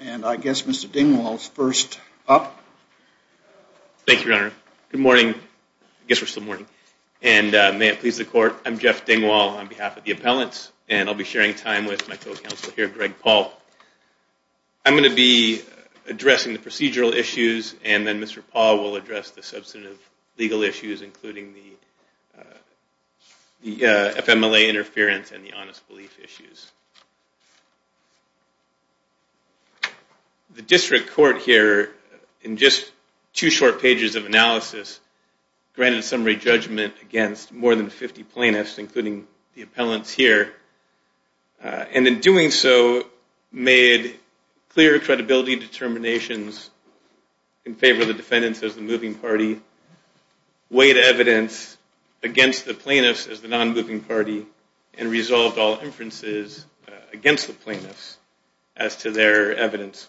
and I guess Mr. Dingwall is first up. Thank you, Your Honor. Good morning. I guess we're still morning. And may it please the Court, I'm Jeff Dingwall on behalf of the appellants, and I'll be sharing time with my co-counsel here, Greg Paul. I'm going to be addressing the procedural issues, and then Mr. Paul will address the substantive legal issues, including the FMLA interference and the honest belief issues. The district court here, in just two short pages of analysis, granted a summary judgment against more than 50 plaintiffs, including the appellants here, and in doing so, made clear credibility determinations in favor of the defendants as the moving party, weighed evidence against the plaintiffs as the non-moving party, and resolved all inferences against the plaintiffs as to their evidence.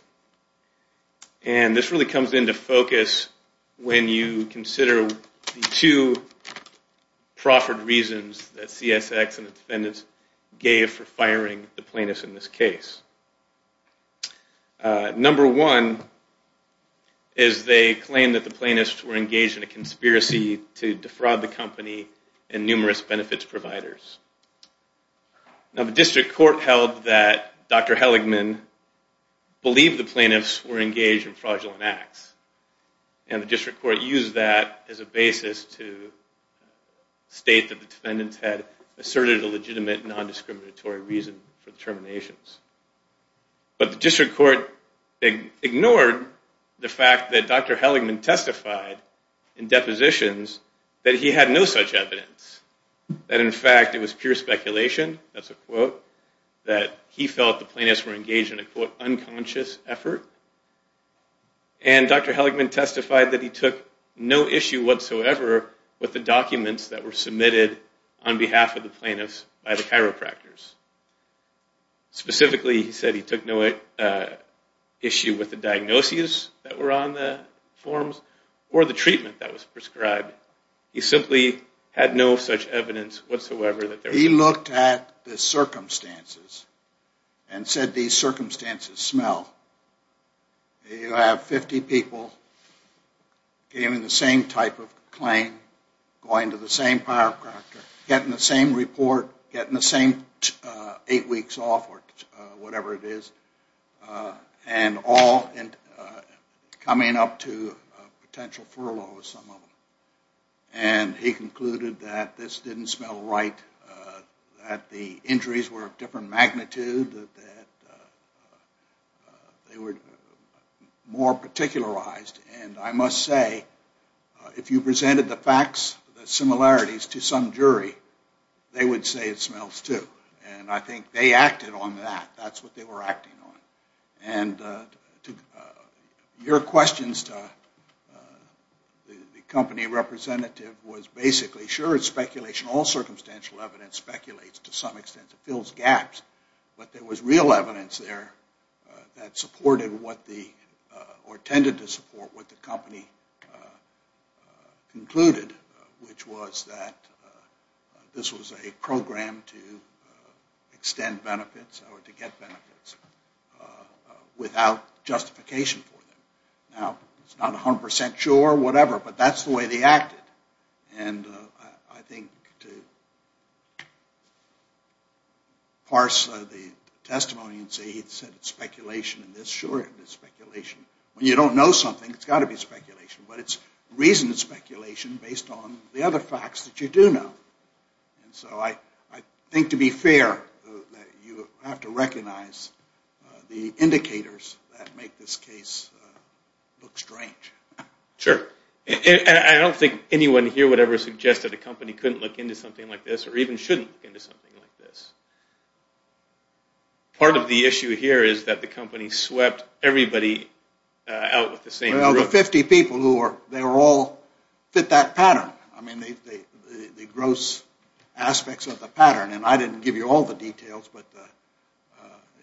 And this really comes into focus when you consider the two proffered reasons that CSX and the defendants gave for firing the plaintiffs in this case. Number one is they claimed that the plaintiffs were engaged in a conspiracy to defraud the Congress, and that the plaintiffs were engaged in fraudulent acts. And the district court used that as a basis to state that the defendants had asserted a legitimate non-discriminatory reason for the terminations. But the district court ignored the fact that Dr. Heligman testified in depositions that he had no such evidence. That, in fact, it was pure speculation, that's a quote, that he felt the plaintiffs were engaged in a, quote, unconscious effort. And Dr. Heligman testified that he took no issue whatsoever with the documents that were submitted on behalf of the plaintiffs by the chiropractors. Specifically, he said he took no issue with the diagnoses that were on the forms or the treatment that was prescribed. He looked at the circumstances and said these circumstances smell. You have 50 people giving the same type of claim, going to the same chiropractor, getting the same report, getting the same eight weeks off or whatever it is, and all coming up to a potential furlough. And he concluded that this didn't smell right, that the injuries were of different magnitude, that they were more particularized. And I must say, if you presented the facts, the similarities to some jury, they would say it smells, too. And I think they acted on that. That's what they were acting on. And your questions, Dr. Heligman, I'm sure, will be answered. The company representative was basically sure it's speculation. All circumstantial evidence speculates to some extent. It fills gaps. But there was real evidence there that supported what the, or tended to support, what the company concluded, which was that this was a program to extend benefits or to get benefits without justification for them. Now, it's not 100% sure or whatever, but it was a program to extend benefits without justification for them. But that's the way they acted. And I think to parse the testimony and say he said it's speculation and this, sure it is speculation. When you don't know something, it's got to be speculation. But it's reasoned speculation based on the other facts that you do know. And so I think to be fair, you have to recognize the indicators that make this case look strange. Sure. And I don't think anyone here would ever suggest that a company couldn't look into something like this or even shouldn't look into something like this. Part of the issue here is that the company swept everybody out with the same group. Well, the 50 people who were, they were all fit that pattern. I mean, the gross aspects of the pattern. And I didn't give you all the details, but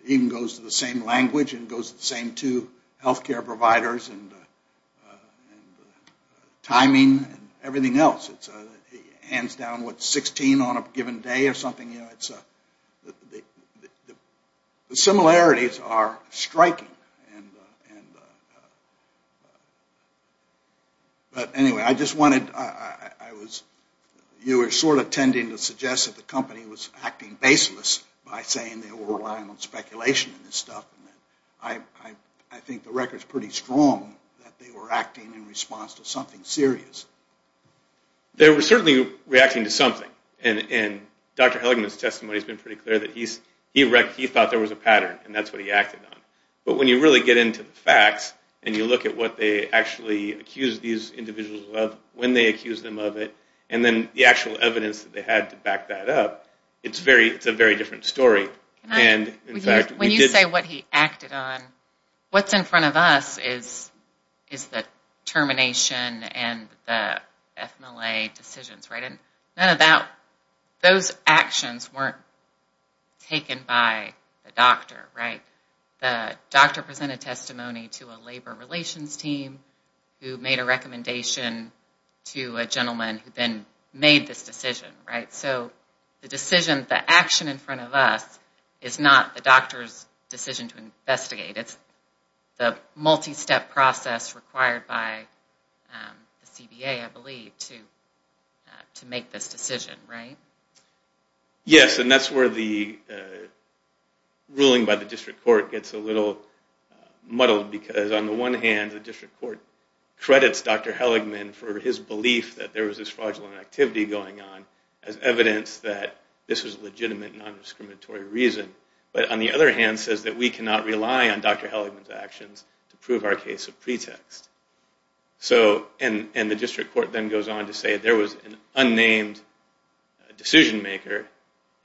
it even goes to the same language and goes to the same two health care providers. And I don't think anyone here would ever suggest that a company couldn't look into something like this or even shouldn't look into something like this. The similarities are striking. But anyway, I just wanted, you were sort of tending to suggest that the company was acting baseless by saying they were relying on speculation and this stuff. I think the record is pretty strong that they were acting baseless. They were reacting in response to something serious. They were certainly reacting to something. And Dr. Helligman's testimony has been pretty clear that he thought there was a pattern and that's what he acted on. But when you really get into the facts and you look at what they actually accused these individuals of, when they accused them of it, and then the actual evidence that they had to back that up, it's a very different story. When you say what he acted on, what's in front of us is that there was a pattern. Termination and the FMLA decisions. None of those actions weren't taken by the doctor. The doctor presented testimony to a labor relations team who made a recommendation to a gentleman who then made this decision. So the decision, the action in front of us is not the doctor's decision to investigate. It's the multi-step process required by the CBA, I believe, to make this decision, right? Yes, and that's where the ruling by the district court gets a little muddled because on the one hand, the district court credits Dr. Helligman for his belief that there was this fraudulent activity going on as evidence that this was legitimate, non-discriminatory reason, but on the other hand says that we cannot rely on Dr. Helligman's actions to prove our case of pretext. And the district court then goes on to say there was an unnamed decision maker.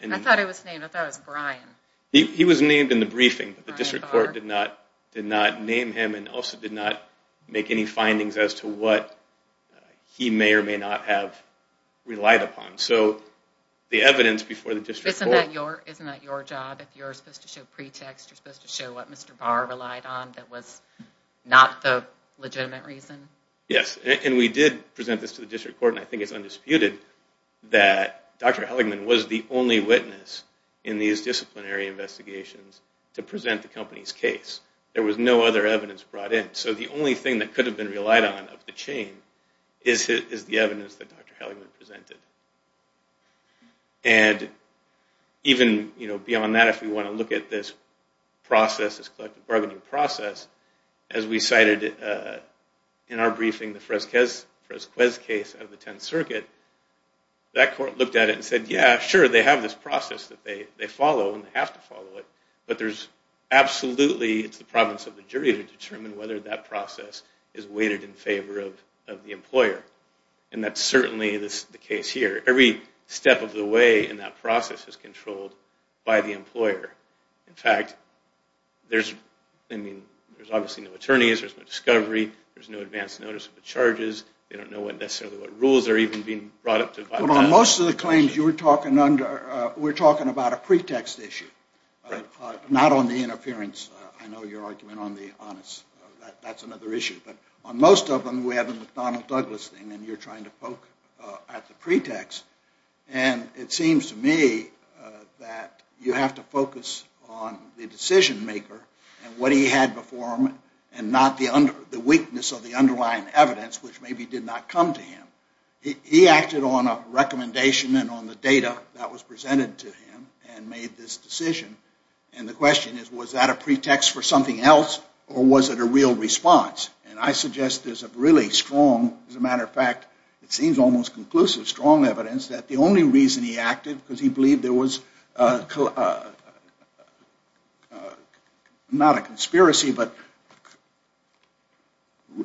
I thought it was named. I thought it was Brian. He was named in the briefing, but the district court did not name him and also did not make any findings as to what he may or may not have relied upon. Isn't that your job? If you're supposed to show pretext, you're supposed to show what Mr. Barr relied on that was not the legitimate reason? Yes, and we did present this to the district court and I think it's undisputed that Dr. Helligman was the only witness in these disciplinary investigations to present the company's case. There was no other evidence brought in. So the only thing that could have been relied on of the chain is the evidence that Dr. Helligman presented. And even beyond that, if we want to look at this process, this collective bargaining process, as we cited in our briefing, the Fresquez case of the 10th Circuit, that court looked at it and said, yeah, sure, they have this process that they follow and they have to follow it, but there's absolutely, it's the province of the jury to determine whether that process is weighted in favor of the employer. And that's certainly the case here. Every step of the way in that process is controlled by the employer. In fact, there's obviously no attorneys, there's no discovery, there's no advance notice of the charges. They don't know necessarily what rules are even being brought up. But on most of the claims you were talking under, we're talking about a pretext issue, not on the interference. I know your argument on the honest, that's another issue. But on most of them, we have a McDonnell Douglas thing and you're trying to poke at the pretext. And it seems to me that you have to focus on the decision maker and what he had before him and not the weakness of the underlying evidence, which maybe did not come to him. He acted on a recommendation and on the data that was presented to him and made this decision. And the question is, was that a pretext for something else or was it a real response? And I suggest there's a really strong, as a matter of fact, it seems almost conclusive, strong evidence that the only reason he acted, because he believed there was, not a conspiracy, but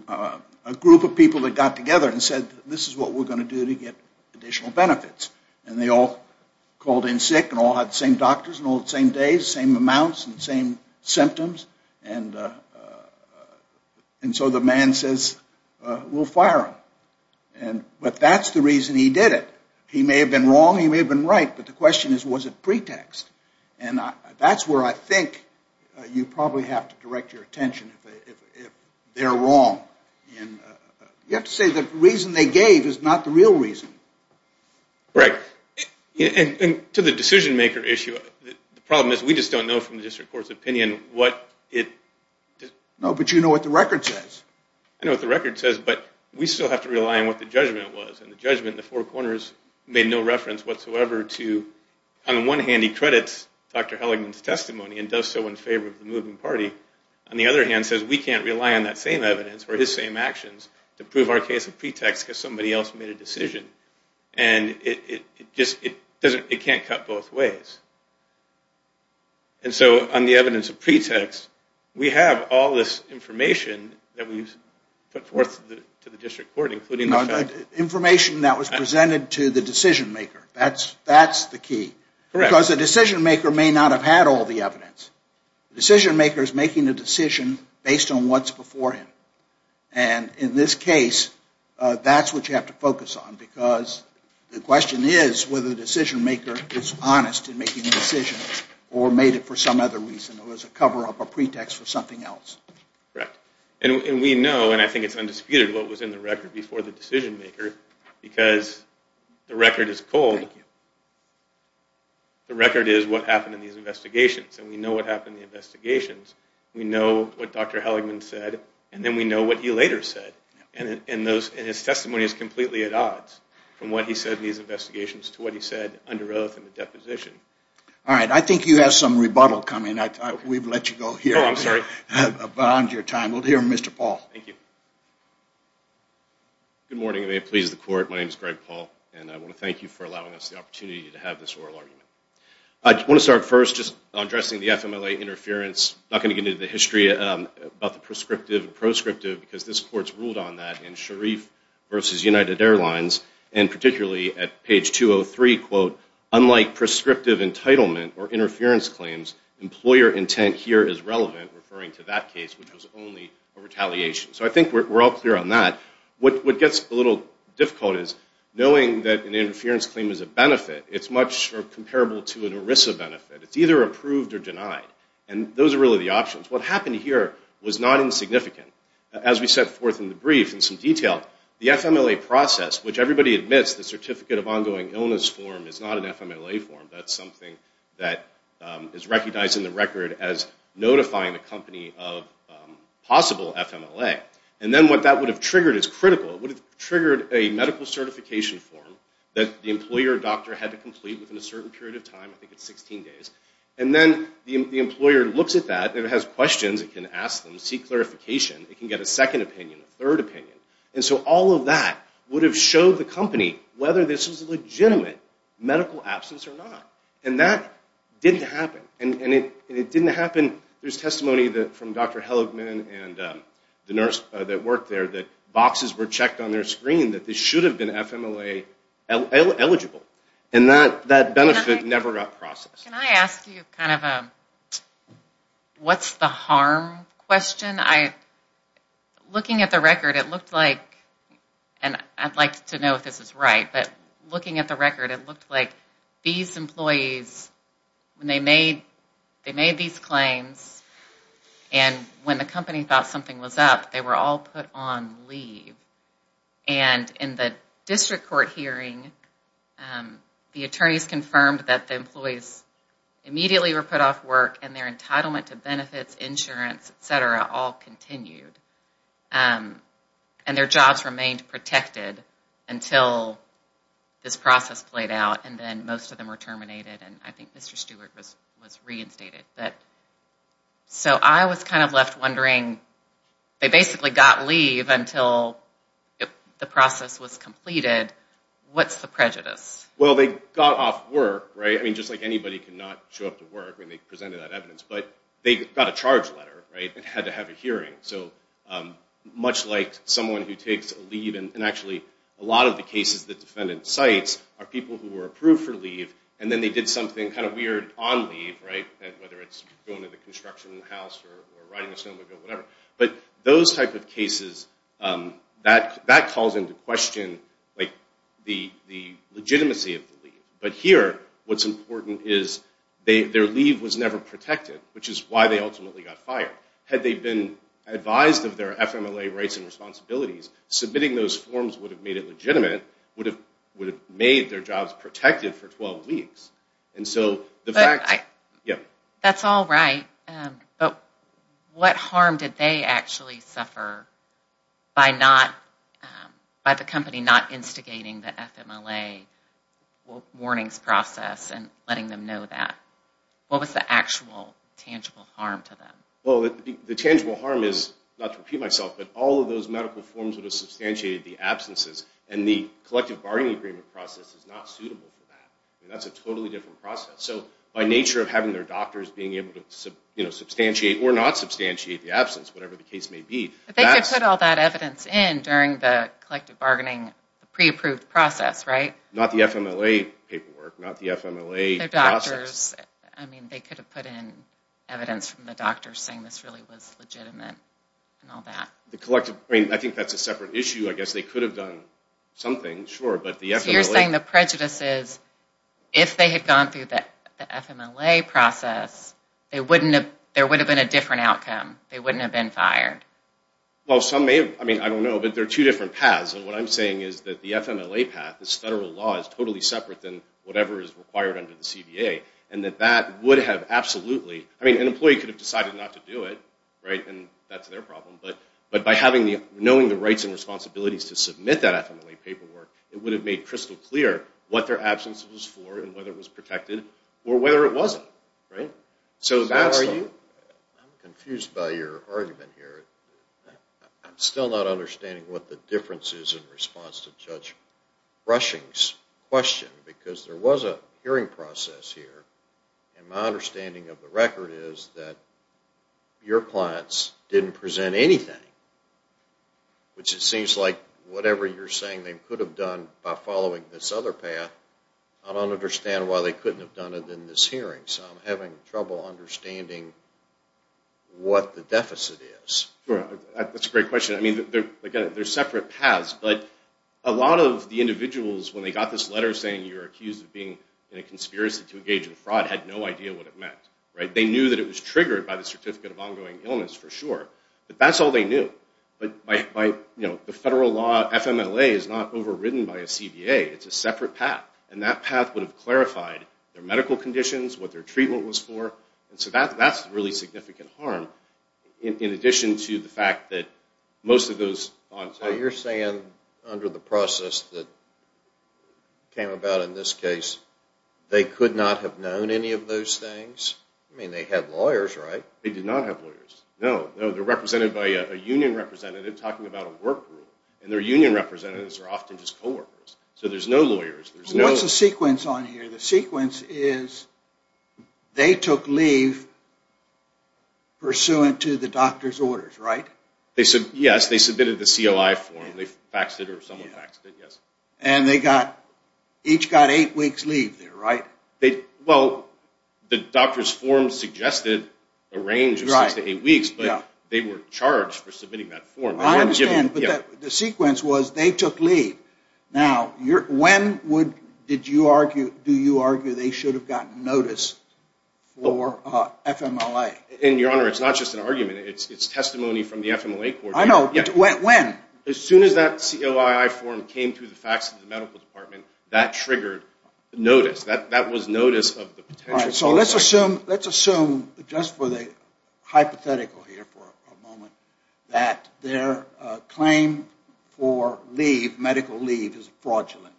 a group of people who were involved in the case, people that got together and said, this is what we're going to do to get additional benefits. And they all called in sick and all had the same doctors and all had the same days, same amounts and same symptoms. And so the man says, we'll fire him. But that's the reason he did it. He may have been wrong, he may have been right, but the question is, was it pretext? And that's where I think you probably have to direct your attention if they're wrong. You have to say the reason they gave is not the real reason. Right. And to the decision-maker issue, the problem is we just don't know from the district court's opinion what it... No, but you know what the record says. I know what the record says, but we still have to rely on what the judgment was. And the judgment in the Four Corners made no reference whatsoever to, on the one hand, he credits Dr. Helligman's testimony and does so in favor of the moving party. On the other hand, it says we can't rely on that same evidence or his same actions to prove our case of pretext because somebody else made a decision. And it can't cut both ways. And so on the evidence of pretext, we have all this information that we've put forth to the district court, including the fact... Information that was presented to the decision-maker. That's the key. Because the decision-maker may not have had all the evidence. The decision-maker is making a decision based on what's before him. And in this case, that's what you have to focus on because the question is whether the decision-maker is honest in making the decision or made it for some other reason. It was a cover-up, a pretext for something else. And we know, and I think it's undisputed, what was in the record before the decision-maker because the record is cold. The record is what happened in these investigations, and we know what happened in the investigations. We know what Dr. Helligman said, and then we know what he later said. And his testimony is completely at odds from what he said in these investigations to what he said under oath in the deposition. All right. I think you have some rebuttal coming. We've let you go here. Oh, I'm sorry. We'll hear from Mr. Paul. Good morning, and may it please the Court. My name is Greg Paul, and I want to thank you for allowing us the opportunity to have this oral argument. I want to start first just addressing the FMLA interference. I'm not going to get into the history about the prescriptive and proscriptive because this Court's ruled on that in Sharif v. United Airlines, and particularly at page 203, quote, unlike prescriptive entitlement or interference claims, employer intent here is relevant, referring to that case, which was only a retaliation. So I think we're all clear on that. What gets a little difficult is knowing that an interference claim is a benefit, it's much comparable to an ERISA benefit. It's either approved or denied, and those are really the options. What happened here was not insignificant. As we set forth in the brief in some detail, the FMLA process, which everybody admits the Certificate of Ongoing Illness form is not an FMLA form. That's something that is recognized in the record as notifying the company of possible FMLA. And then what that would have triggered is critical. It would have triggered a medical certification form that the employer or doctor had to complete within a certain period of time. I think it's 16 days. And then the employer looks at that, and it has questions. It can ask them, seek clarification. It can get a second opinion, a third opinion. And so all of that would have showed the company whether this was a legitimate medical absence or not. And that didn't happen. And it didn't happen. There's testimony from Dr. Helligman and the nurse that worked there that boxes were checked on their screen that this should have been FMLA eligible. And that benefit never got processed. Can I ask you kind of a what's the harm question? Looking at the record, it looked like, and I'd like to know if this is right, but looking at the record, it looked like these employees, when they made these claims and when the company thought something was up, they were all put on leave. And in the district court hearing, the attorneys confirmed that the employees immediately were put off work and their entitlement to benefits, insurance, etc. all continued. And their jobs remained protected until this process played out. And then most of them were terminated. And I think Mr. Stewart was reinstated. So I was kind of left wondering, they basically got leave until the process was completed. What's the prejudice? Well, they got off work, right? I mean, just like anybody can not show up to work when they presented that evidence. But they got a charge letter and had to have a hearing. So much like someone who takes leave, and actually a lot of the cases the defendant cites are people who were approved for leave, and then they did something kind of weird on leave, whether it's going to the construction house or riding a snowmobile, whatever. But those type of cases, that calls into question the legitimacy of the leave. But here, what's important is their leave was never protected, which is why they ultimately got fired. Had they been advised of their FMLA rights and responsibilities, submitting those forms would have made it legitimate, would have made their jobs protected for 12 weeks. That's all right, but what harm did they actually suffer by the company not instigating the FMLA warnings process and letting them know that? What was the actual tangible harm to them? Well, the tangible harm is, not to repeat myself, but all of those medical forms would have substantiated the absences, and the collective bargaining agreement process is not suitable for that. That's a totally different process. So by nature of having their doctors being able to substantiate or not substantiate the absence, whatever the case may be, that's... But they could have put all that evidence in during the collective bargaining pre-approved process, right? Not the FMLA paperwork, not the FMLA process. I mean, they could have put in evidence from the doctors saying this really was legitimate and all that. I mean, I think that's a separate issue. I guess they could have done something, sure, but the FMLA... So you're saying the prejudice is, if they had gone through the FMLA process, there would have been a different outcome. They wouldn't have been fired. Well, some may have. I mean, I don't know, but there are two different paths. And what I'm saying is that the FMLA path, this federal law, is totally separate than whatever is required under the CBA. And that that would have absolutely... I mean, an employee could have decided not to do it, right? And that's their problem. But by knowing the rights and responsibilities to submit that FMLA paperwork, it would have made crystal clear what their absence was for and whether it was protected or whether it wasn't. I'm confused by your argument here. I'm still not understanding what the difference is in response to Judge Brushing's question, because there was a hearing process here. And my understanding of the record is that your clients didn't present anything, which it seems like whatever you're saying they could have done by following this other path, I don't understand why they couldn't have done it in this hearing. So I'm having trouble understanding what the deficit is. That's a great question. I mean, there are separate paths. But a lot of the individuals, when they got this letter saying you're accused of being in a conspiracy to engage in fraud, had no idea what it meant. They knew that it was triggered by the Certificate of Ongoing Illness, for sure. But that's all they knew. The federal law FMLA is not overridden by a CBA. It's a separate path. And that path would have clarified their medical conditions, what their treatment was for. So that's a really significant harm, in addition to the fact that most of those... You're saying, under the process that came about in this case, they could not have known any of those things? I mean, they had lawyers, right? They did not have lawyers. No, no. They're represented by a union representative talking about a work rule. And their union representatives are often just co-workers. So there's no lawyers. What's the sequence on here? The sequence is they took leave pursuant to the doctor's orders, right? Yes, they submitted the COI form. They faxed it or someone faxed it, yes. And they each got eight weeks leave there, right? Well, the doctor's form suggested a range of six to eight weeks, but they were charged for submitting that form. I understand, but the sequence was they took leave. Now, when do you argue they should have gotten notice for FMLA? And, Your Honor, it's not just an argument. It's testimony from the FMLA Court. I know. When? As soon as that COI form came through the fax to the medical department, that triggered notice. That was notice of the potential. All right. So let's assume, just for the hypothetical here for a moment, that their claim for leave, medical leave, is fraudulent.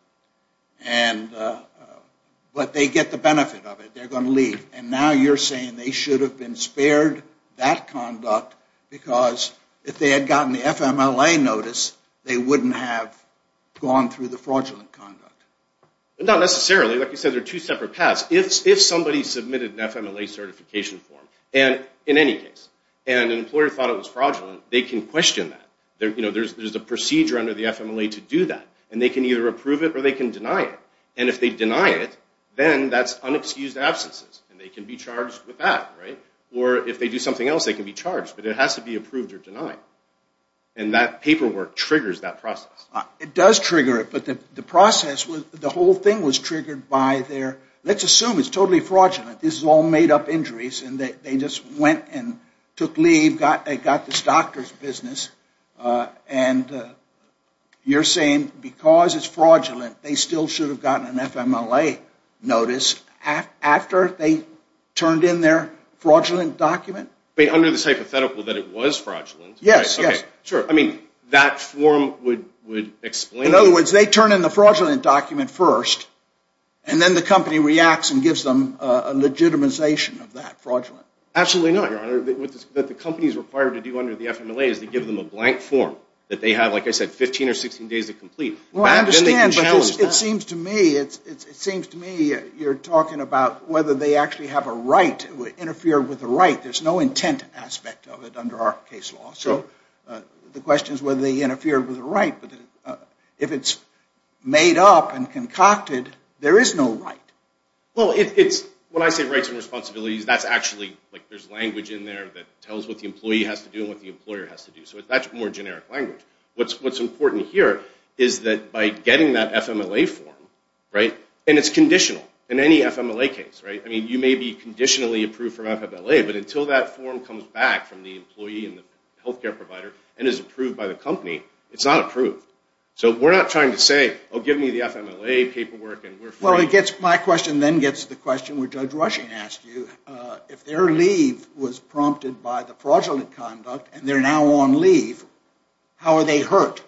But they get the benefit of it. They're going to leave. And now you're saying they should have been spared that conduct because if they had gotten the FMLA notice, they wouldn't have gone through the fraudulent conduct. Not necessarily. Like you said, there are two separate paths. If somebody submitted an FMLA certification form, in any case, and an employer thought it was fraudulent, they can question that. There's a procedure under the FMLA to do that. And they can either approve it or they can deny it. And if they deny it, then that's unexcused absences. And they can be charged with that. Right? Or if they do something else, they can be charged. But it has to be approved or denied. And that paperwork triggers that process. It does trigger it. But the process, the whole thing was triggered by their, let's assume it's totally fraudulent. This is all made up injuries. And they just went and took leave. They got this doctor's business. And you're saying because it's fraudulent, they still should have gotten an FMLA notice after they turned in their fraudulent document? But under this hypothetical that it was fraudulent. Yes. Yes. Sure. I mean, that form would explain. In other words, they turn in the fraudulent document first and then the company reacts and gives them a legitimization of that fraudulent. Absolutely not, Your Honor. What the company is required to do under the FMLA is to give them a blank form that they have, like I said, 15 or 16 days to complete. Well, I understand. But it seems to me, it seems to me you're talking about whether they actually have a right to interfere with the right. There's no intent aspect of it under our case law. So the question is whether they interfere with the right. But if it's made up and concocted, there is no right. Well, when I say rights and responsibilities, that's actually like there's language in there that tells what the employee has to do and what the employer has to do. So that's more generic language. What's important here is that by getting that FMLA form, right, and it's conditional in any FMLA case, right? I mean, you may be conditionally approved for FMLA, but until that form comes back from the employee and the health care provider and is approved by the company, it's not approved. So we're not trying to say, oh, give me the FMLA paperwork and we're free. Well, my question then gets to the question where Judge Rushing asked you. If their leave was prompted by the fraudulent conduct and they're now on leave, how are they hurt?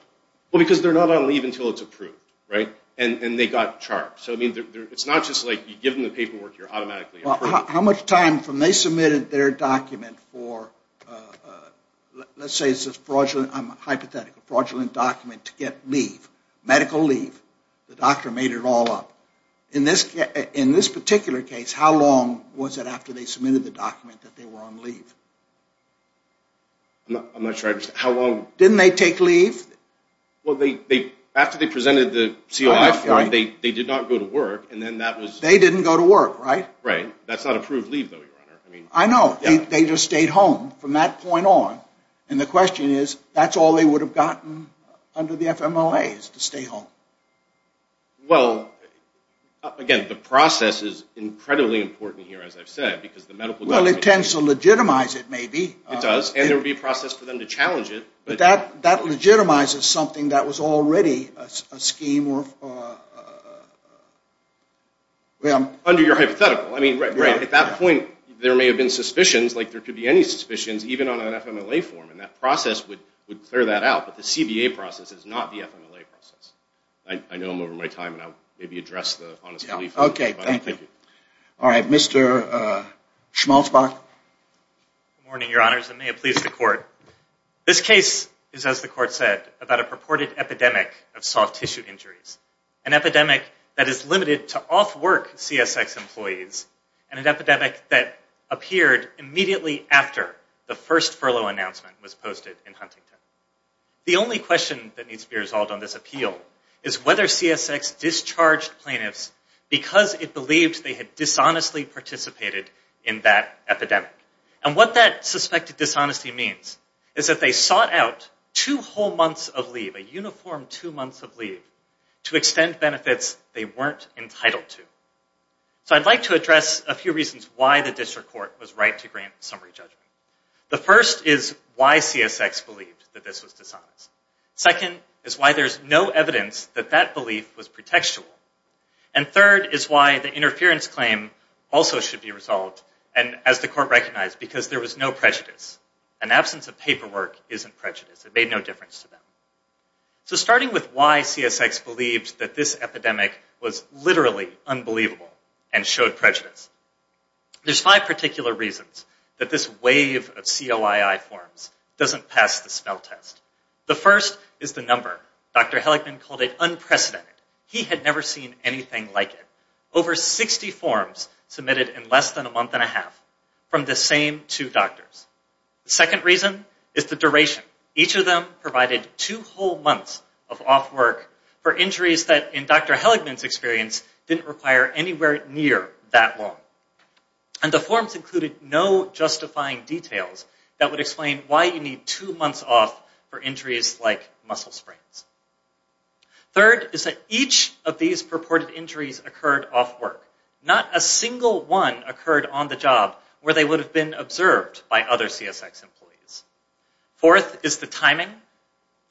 Well, because they're not on leave until it's approved, right? And they got charged. So it's not just like you give them the paperwork, you're automatically approved. How much time from they submitted their document for, let's say it's a fraudulent, hypothetical fraudulent document to get leave, medical leave, the doctor made it all up. In this particular case, how long was it after they submitted the document that they were on leave? I'm not sure I understand. How long? Didn't they take leave? Well, after they presented the CLI form, they did not go to work. They didn't go to work, right? Right. That's not approved leave, though, Your Honor. I know. They just stayed home from that point on. And the question is, that's all they would have gotten under the FMLA is to stay home. Well, again, the process is incredibly important here, as I've said. Well, it tends to legitimize it, maybe. It does, and there would be a process for them to challenge it. But that legitimizes something that was already a scheme of... Under your hypothetical. I mean, right. At that point, there may have been suspicions, like there could be any suspicions, even on an FMLA form, and that process would clear that out. But the CBA process is not the FMLA process. I know I'm over my time, and I'll maybe address the honest belief. All right. Mr. Schmalzbach. Good morning, Your Honors, and may it please the Court. This case is, as the Court said, about a purported epidemic of soft tissue injuries, an epidemic that is limited to off-work CSX employees, and an epidemic that appeared immediately after the first furlough announcement was posted in Huntington. The only question that needs to be resolved on this appeal is whether CSX discharged plaintiffs because it believed they had dishonestly participated in that epidemic. And what that suspected dishonesty means is that they sought out two whole months of leave, a uniform two months of leave, to extend benefits they weren't entitled to. So I'd like to address a few reasons why the District Court was right to grant summary judgment. The first is why CSX believed that this was dishonest. Second is why there's no evidence that that belief was pretextual. And third is why the interference claim also should be resolved, and, as the Court recognized, because there was no prejudice. An absence of paperwork isn't prejudice. It made no difference to them. So starting with why CSX believed that this epidemic was literally unbelievable and showed prejudice. There's five particular reasons that this wave of COII forms doesn't pass the spell test. The first is the number. Dr. Heligman called it unprecedented. He had never seen anything like it. Over 60 forms submitted in less than a month and a half from the same two doctors. The second reason is the duration. Each of them provided two whole months of off work for injuries that, in Dr. Heligman's experience, didn't require anywhere near that long. And the forms included no justifying details that would explain why you need two months off for injuries like muscle sprains. Third is that each of these purported injuries occurred off work. Not a single one occurred on the job where they would have been observed by other CSX employees. Fourth is the timing.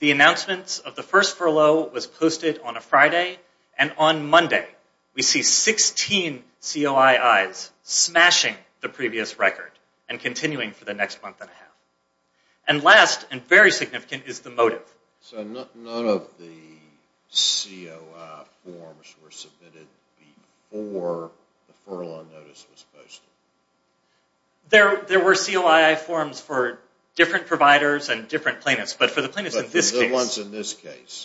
The announcement of the first furlough was posted on a Friday, and on Monday we see 16 COII's smashing the previous record and continuing for the next month and a half. And last, and very significant, is the motive. So none of the COII forms were submitted before the furlough notice was posted? There were COII forms for different providers and different plaintiffs, but for the plaintiffs in this case.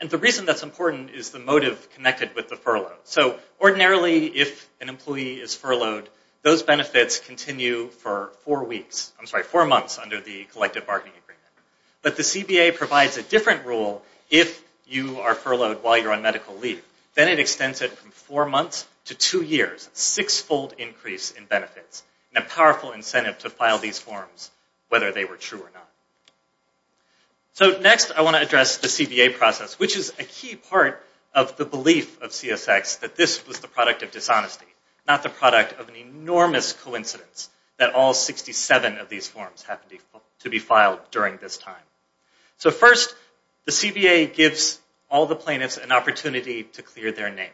And the reason that's important is the motive connected with the furlough. So ordinarily, if an employee is furloughed, those benefits continue for four months under the collective bargaining agreement. But the CBA provides a different rule if you are furloughed while you're on medical leave. Then it extends it from four months to two years, a six-fold increase in benefits, and a powerful incentive to file these forms whether they were true or not. So next I want to address the CBA process, which is a key part of the belief of CSX that this was the product of dishonesty, not the product of an enormous coincidence that all 67 of these forms happened to be filed during this time. So first, the CBA gives all the plaintiffs an opportunity to clear their name.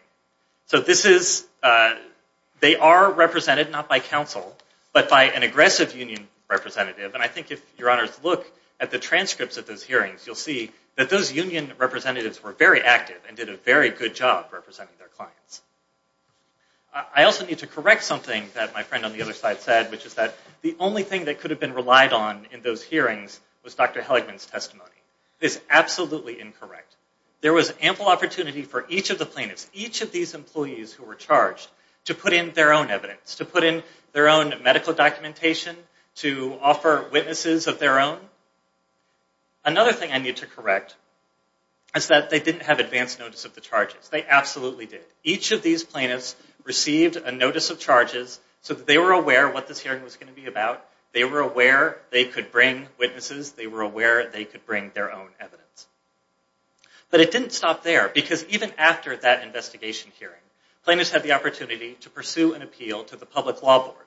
They are represented not by counsel, but by an aggressive union representative. And I think if your honors look at the transcripts of those hearings, you'll see that those union representatives were very active and did a very good job representing their clients. I also need to correct something that my friend on the other side said, which is that the only thing that could have been relied on in those hearings was Dr. Helligman's testimony. It is absolutely incorrect. There was ample opportunity for each of the plaintiffs, each of these employees who were charged, to put in their own evidence, to put in their own medical documentation, to offer witnesses of their own. Another thing I need to correct is that they didn't have advance notice of the charges. They absolutely did. Each of these plaintiffs received a notice of charges so that they were aware of what this hearing was going to be about. They were aware they could bring witnesses. They were aware they could bring their own evidence. But it didn't stop there, because even after that investigation hearing, plaintiffs had the opportunity to pursue an appeal to the public law board.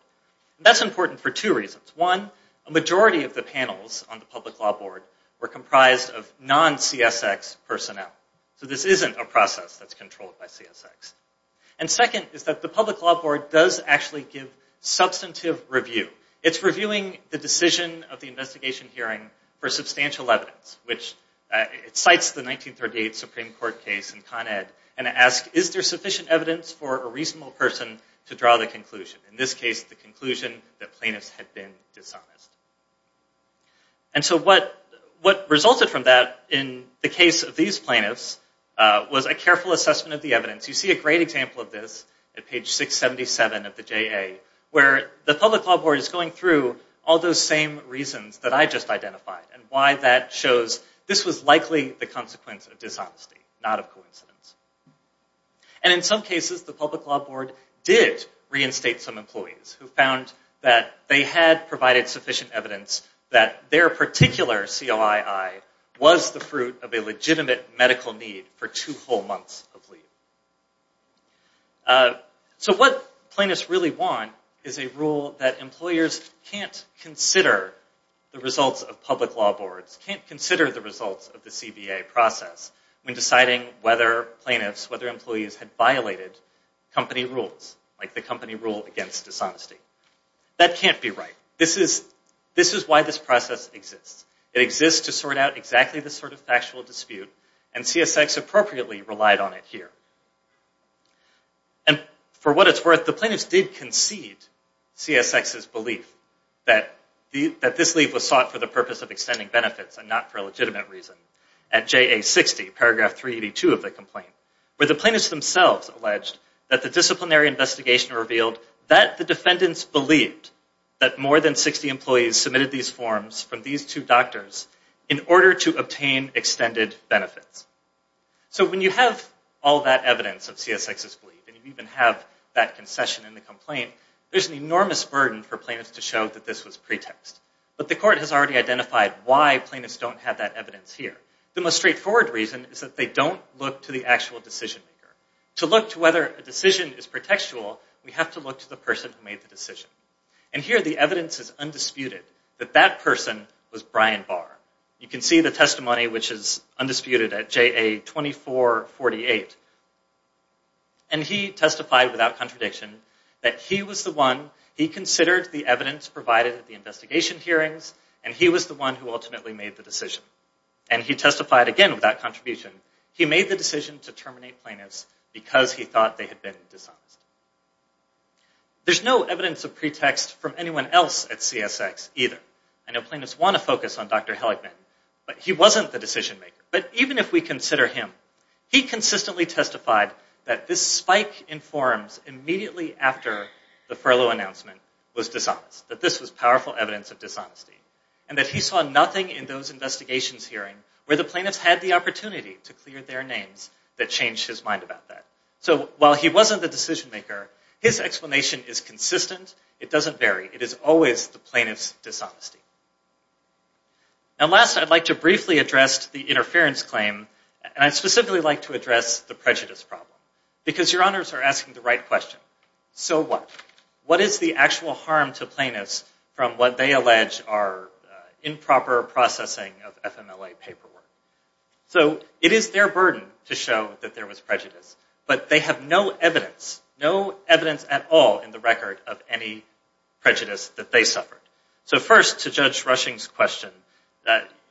That's important for two reasons. One, a majority of the panels on the public law board were comprised of non-CSX personnel. So this isn't a process that's controlled by CSX. And second is that the public law board does actually give substantive review. It's reviewing the decision of the investigation hearing for substantial evidence. It cites the 1938 Supreme Court case in Con Ed, and asks, is there sufficient evidence for a reasonable person to draw the conclusion? In this case, the conclusion that plaintiffs had been dishonest. And so what resulted from that in the case of these plaintiffs was a careful assessment of the evidence. You see a great example of this at page 677 of the JA, where the public law board is going through all those same reasons that I just identified and why that shows this was likely the consequence of dishonesty, not of coincidence. And in some cases, the public law board did reinstate some employees who found that they had provided sufficient evidence that their particular COII was the fruit of a legitimate medical need for two whole months of leave. So what plaintiffs really want is a rule that employers can't consider the results of public law boards, can't consider the results of the CBA process when deciding whether plaintiffs, whether employees had violated company rules, like the company rule against dishonesty. That can't be right. This is why this process exists. It exists to sort out exactly this sort of factual dispute, and CSX appropriately relied on it here. And for what it's worth, the plaintiffs did concede CSX's belief that this leave was sought for the purpose of extending benefits and not for a legitimate reason. At JA 60, paragraph 382 of the complaint, where the plaintiffs themselves alleged that the disciplinary investigation revealed that the defendants believed that more than 60 employees submitted these forms from these two doctors in order to obtain extended benefits. So when you have all that evidence of CSX's belief, and you even have that concession in the complaint, there's an enormous burden for plaintiffs to show that this was pretext. But the court has already identified why plaintiffs don't have that evidence here. The most straightforward reason is that they don't look to the actual decision maker. To look to whether a decision is pretextual, we have to look to the person who made the decision. And here the evidence is undisputed that that person was Brian Barr. You can see the testimony, which is undisputed at JA 2448. And he testified without contradiction that he was the one, he considered the evidence provided at the investigation hearings, and he was the one who ultimately made the decision. And he testified again without contribution. He made the decision to terminate plaintiffs because he thought they had been dishonest. There's no evidence of pretext from anyone else at CSX either. I know plaintiffs want to focus on Dr. Helligman, but he wasn't the decision maker. But even if we consider him, he consistently testified that this spike in forums immediately after the furlough announcement was dishonest. That this was powerful evidence of dishonesty. And that he saw nothing in those investigations hearings where the plaintiffs had the opportunity to clear their names that changed his mind about that. So while he wasn't the decision maker, his explanation is consistent. It doesn't vary. It is always the plaintiff's dishonesty. And last, I'd like to briefly address the interference claim. And I'd specifically like to address the prejudice problem. Because your honors are asking the right question. So what? What is the actual harm to plaintiffs from what they allege are improper processing of FMLA paperwork? So, it is their burden to show that there was prejudice. But they have no evidence, no evidence at all in the record of any prejudice that they suffered. So first, to Judge Rushing's question,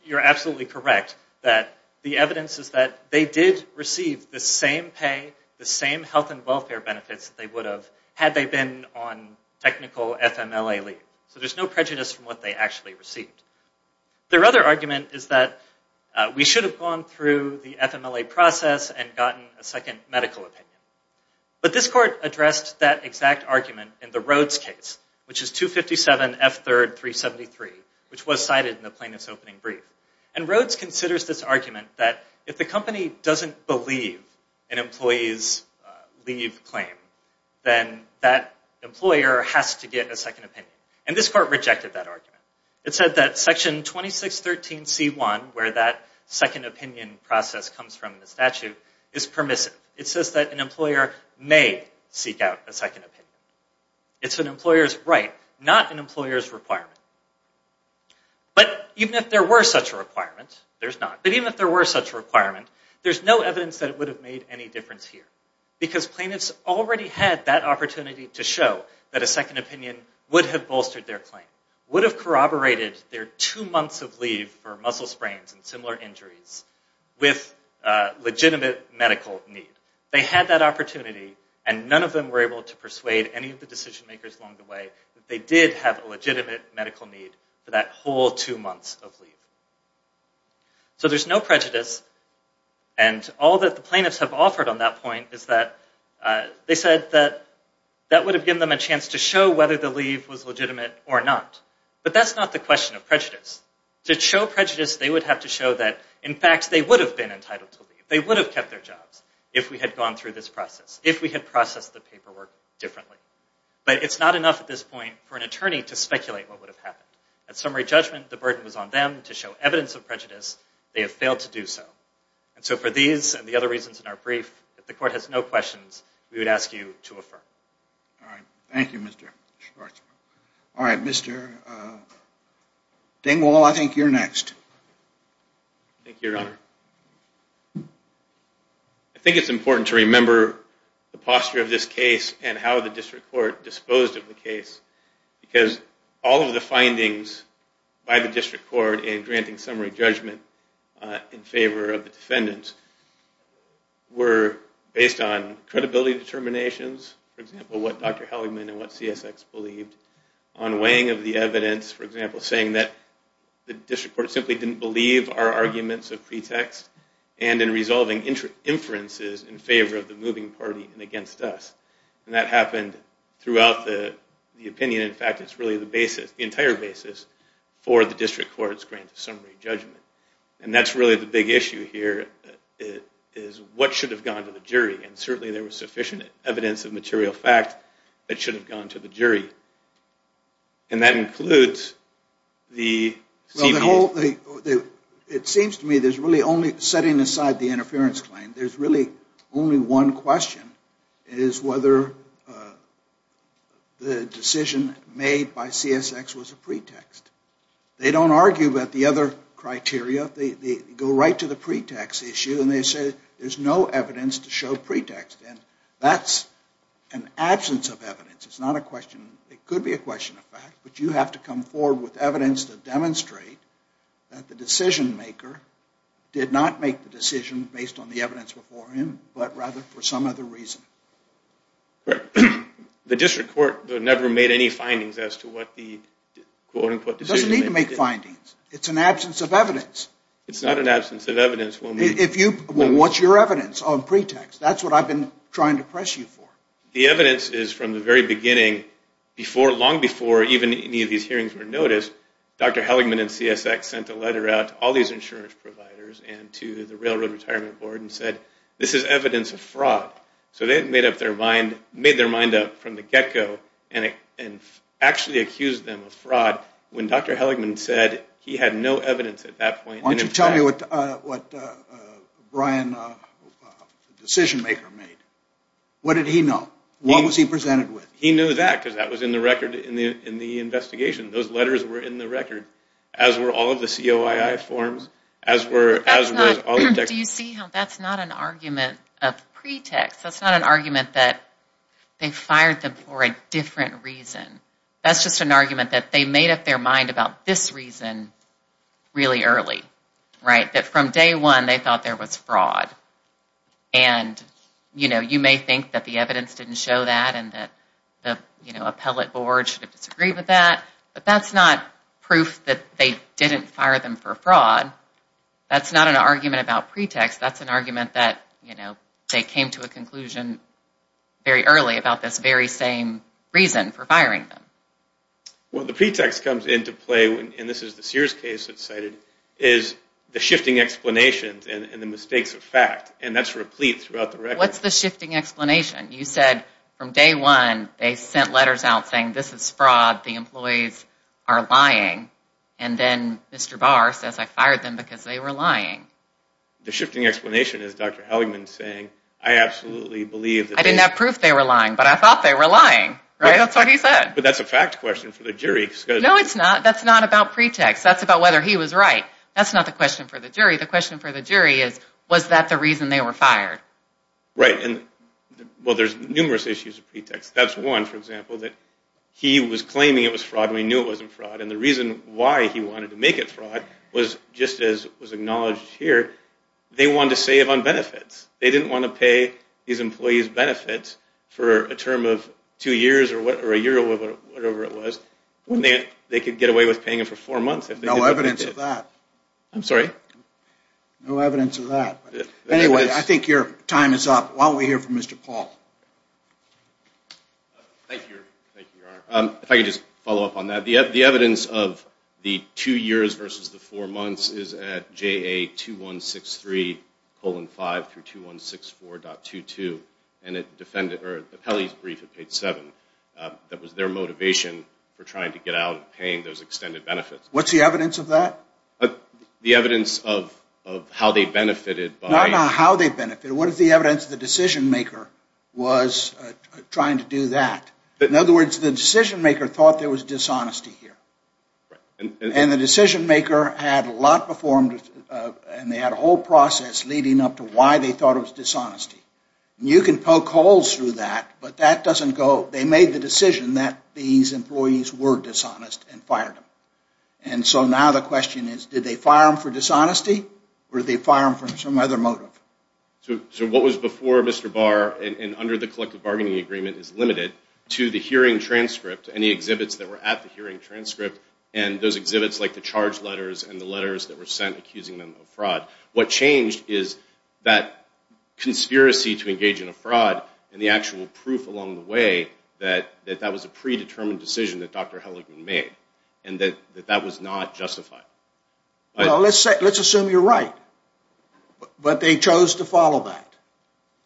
you're absolutely correct that the evidence is that they did receive the same pay, the same health and welfare benefits that they would have had they been on technical FMLA leave. So there's no prejudice from what they actually received. Their other argument is that we should have gone through the FMLA process and gotten a second medical opinion. But this court addressed that exact argument in the Rhodes case, which is 257 F3rd 373, which was cited in the plaintiff's opening brief. And Rhodes considers this argument that if the company doesn't believe an employee's leave claim, then that employer has to get a second opinion. And this court rejected that argument. It said that Section 2613 C1, where that second opinion process comes from in the statute, is permissive. It says that an employer may seek out a second opinion. It's an employer's right, not an employer's requirement. But even if there were such a requirement, there's not. But even if there were such a requirement, there's no evidence that it would have made any difference here. Because plaintiffs already had that opportunity to show that a second opinion would have bolstered their claim, would have corroborated their two months of leave for muscle sprains and similar injuries with legitimate medical need. They had that opportunity, and none of them were able to persuade any of the decision makers along the way that they did have a legitimate medical need for that whole two months of leave. So there's no prejudice. And all that the plaintiffs have offered on that point is that they said that that would have given them a chance to show whether the leave was legitimate or not. But that's not the question of prejudice. To show prejudice, they would have to show that, in fact, they would have been entitled to leave. They would have kept their jobs if we had gone through this process, if we had processed the paperwork differently. But it's not enough at this point for an attorney to speculate what would have happened. At summary judgment, the burden was on them to show evidence of prejudice. They have failed to do so. And so for these and the other reasons in our brief, if the court has no questions, we would ask you to affirm. All right. Thank you, Mr. Schwarzwald. All right, Mr. Dingwall, I think you're next. Thank you, Your Honor. I think it's important to remember the posture of this case and how the district court disposed of the case because all of the findings by the district court in granting summary judgment in favor of the defendants were based on credibility determinations, for example, what Dr. Helligman and what CSX believed, on weighing of the evidence, for example, saying that the district court simply didn't believe our arguments of pretext and in resolving inferences in favor of the moving party and against us. And that happened throughout the opinion. In fact, it's really the entire basis for the district court's grant of summary judgment. And that's really the big issue here is what should have gone to the jury. And certainly there was sufficient evidence of material fact that should have gone to the jury. And that includes the... Well, it seems to me there's really only, setting aside the interference claim, there's really only one question is whether the decision made by CSX was a pretext. They don't argue about the other criteria. They go right to the pretext issue and they say there's no evidence to show pretext. And that's an absence of evidence. It's not a question. It could be a question of fact, but you have to come forward with evidence to demonstrate that the decision maker did not make the decision based on the evidence before him, but rather for some other reason. The district court never made any findings as to what the quote-unquote decision made. It doesn't need to make findings. It's an absence of evidence. It's not an absence of evidence. Well, what's your evidence on pretext? That's what I've been trying to press you for. The evidence is from the very beginning. Long before even any of these hearings were noticed, Dr. Helligman and CSX sent a letter out to all these insurance providers and to the Railroad Retirement Board and said this is evidence of fraud. So they had made their mind up from the get-go and actually accused them of fraud when Dr. Helligman said he had no evidence at that point. Why don't you tell me what Brian, the decision maker, made? What did he know? What was he presented with? He knew that because that was in the record in the investigation. Those letters were in the record, as were all of the COII forms, as were all the text. Do you see how that's not an argument of pretext? That's not an argument that they fired them for a different reason. That's just an argument that they made up their mind about this reason really early, right, that from day one they thought there was fraud. And, you know, you may think that the evidence didn't show that and that the appellate board should have disagreed with that, but that's not proof that they didn't fire them for fraud. That's not an argument about pretext. That's an argument that, you know, they came to a conclusion very early about this very same reason for firing them. Well, the pretext comes into play, and this is the Sears case that's cited, is the shifting explanations and the mistakes of fact, and that's replete throughout the record. What's the shifting explanation? You said from day one they sent letters out saying, this is fraud, the employees are lying, and then Mr. Barr says I fired them because they were lying. The shifting explanation is Dr. Halligman saying, I didn't have proof they were lying, but I thought they were lying. That's what he said. But that's a fact question for the jury. No, it's not. That's not about pretext. That's about whether he was right. That's not the question for the jury. The question for the jury is, was that the reason they were fired? Right. Well, there's numerous issues of pretext. That's one, for example, that he was claiming it was fraud and we knew it wasn't fraud, and the reason why he wanted to make it fraud was, just as was acknowledged here, they wanted to save on benefits. They didn't want to pay these employees benefits for a term of two years or a year or whatever it was. They could get away with paying them for four months. No evidence of that. I'm sorry? No evidence of that. Anyway, I think your time is up. Why don't we hear from Mr. Paul? Thank you, Your Honor. If I could just follow up on that. The evidence of the two years versus the four months is at JA2163-5-2164.22, and the Pelley's brief had paid seven. That was their motivation for trying to get out and paying those extended benefits. What's the evidence of that? The evidence of how they benefited by – No, no, how they benefited. What is the evidence the decision-maker was trying to do that? In other words, the decision-maker thought there was dishonesty here. And the decision-maker had a lot performed, and they had a whole process leading up to why they thought it was dishonesty. You can poke holes through that, but that doesn't go – they made the decision that these employees were dishonest and fired them. And so now the question is, did they fire them for dishonesty or did they fire them for some other motive? So what was before Mr. Barr and under the collective bargaining agreement is limited to the hearing transcript and the exhibits that were at the hearing transcript and those exhibits like the charge letters and the letters that were sent accusing them of fraud. What changed is that conspiracy to engage in a fraud and the actual proof along the way that that was a predetermined decision that Dr. Helligman made and that that was not justified. Well, let's assume you're right, but they chose to follow that.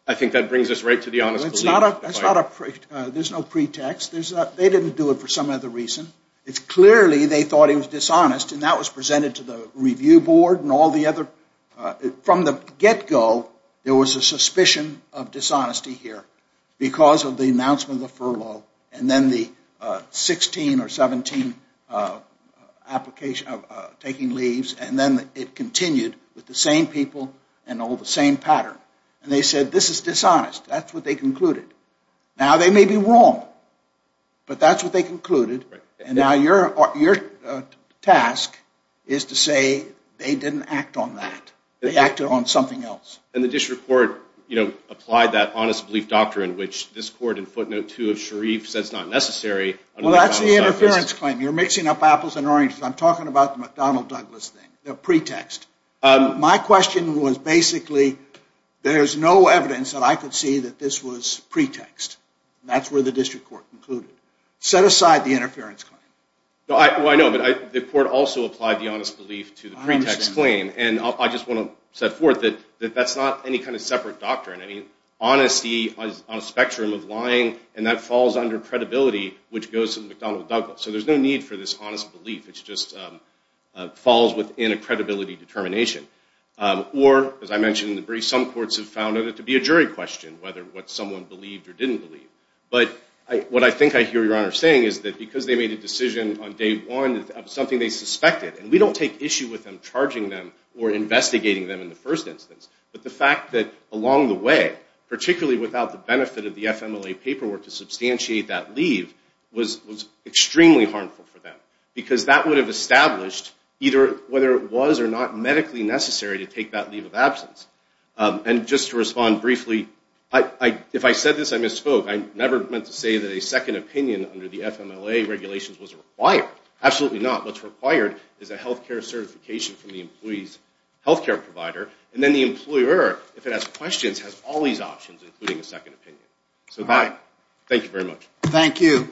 I think that brings us right to the honest belief point. There's no pretext. They didn't do it for some other reason. It's clearly they thought he was dishonest, and that was presented to the review board and all the other – from the get-go, there was a suspicion of dishonesty here because of the announcement of the furlough and then the 16 or 17 application of taking leaves, and then it continued with the same people and all the same pattern. And they said, this is dishonest. That's what they concluded. Now, they may be wrong, but that's what they concluded, and now your task is to say they didn't act on that. They acted on something else. And the district court applied that honest belief doctrine which this court in footnote 2 of Sharif says is not necessary. Well, that's the interference claim. You're mixing up apples and oranges. I'm talking about the McDonnell-Douglas thing, the pretext. My question was basically, there's no evidence that I could see that this was pretext. That's where the district court concluded. Set aside the interference claim. Well, I know, but the court also applied the honest belief to the pretext claim, and I just want to set forth that that's not any kind of separate doctrine. I mean, honesty on a spectrum of lying, and that falls under credibility, which goes to McDonnell-Douglas. So there's no need for this honest belief. It just falls within a credibility determination. Or, as I mentioned in the brief, some courts have found it to be a jury question, whether what someone believed or didn't believe. But what I think I hear Your Honor saying is that because they made a decision on day one of something they suspected, and we don't take issue with them charging them or investigating them in the first instance, but the fact that along the way, particularly without the benefit of the FMLA paperwork to substantiate that leave, was extremely harmful for them. Because that would have established, either whether it was or not medically necessary to take that leave of absence. And just to respond briefly, if I said this, I misspoke. I never meant to say that a second opinion under the FMLA regulations was required. Absolutely not. What's required is a health care certification from the employee's health care provider, and then the employer, if it has questions, has all these options, including a second opinion. So, bye. Thank you very much. Thank you.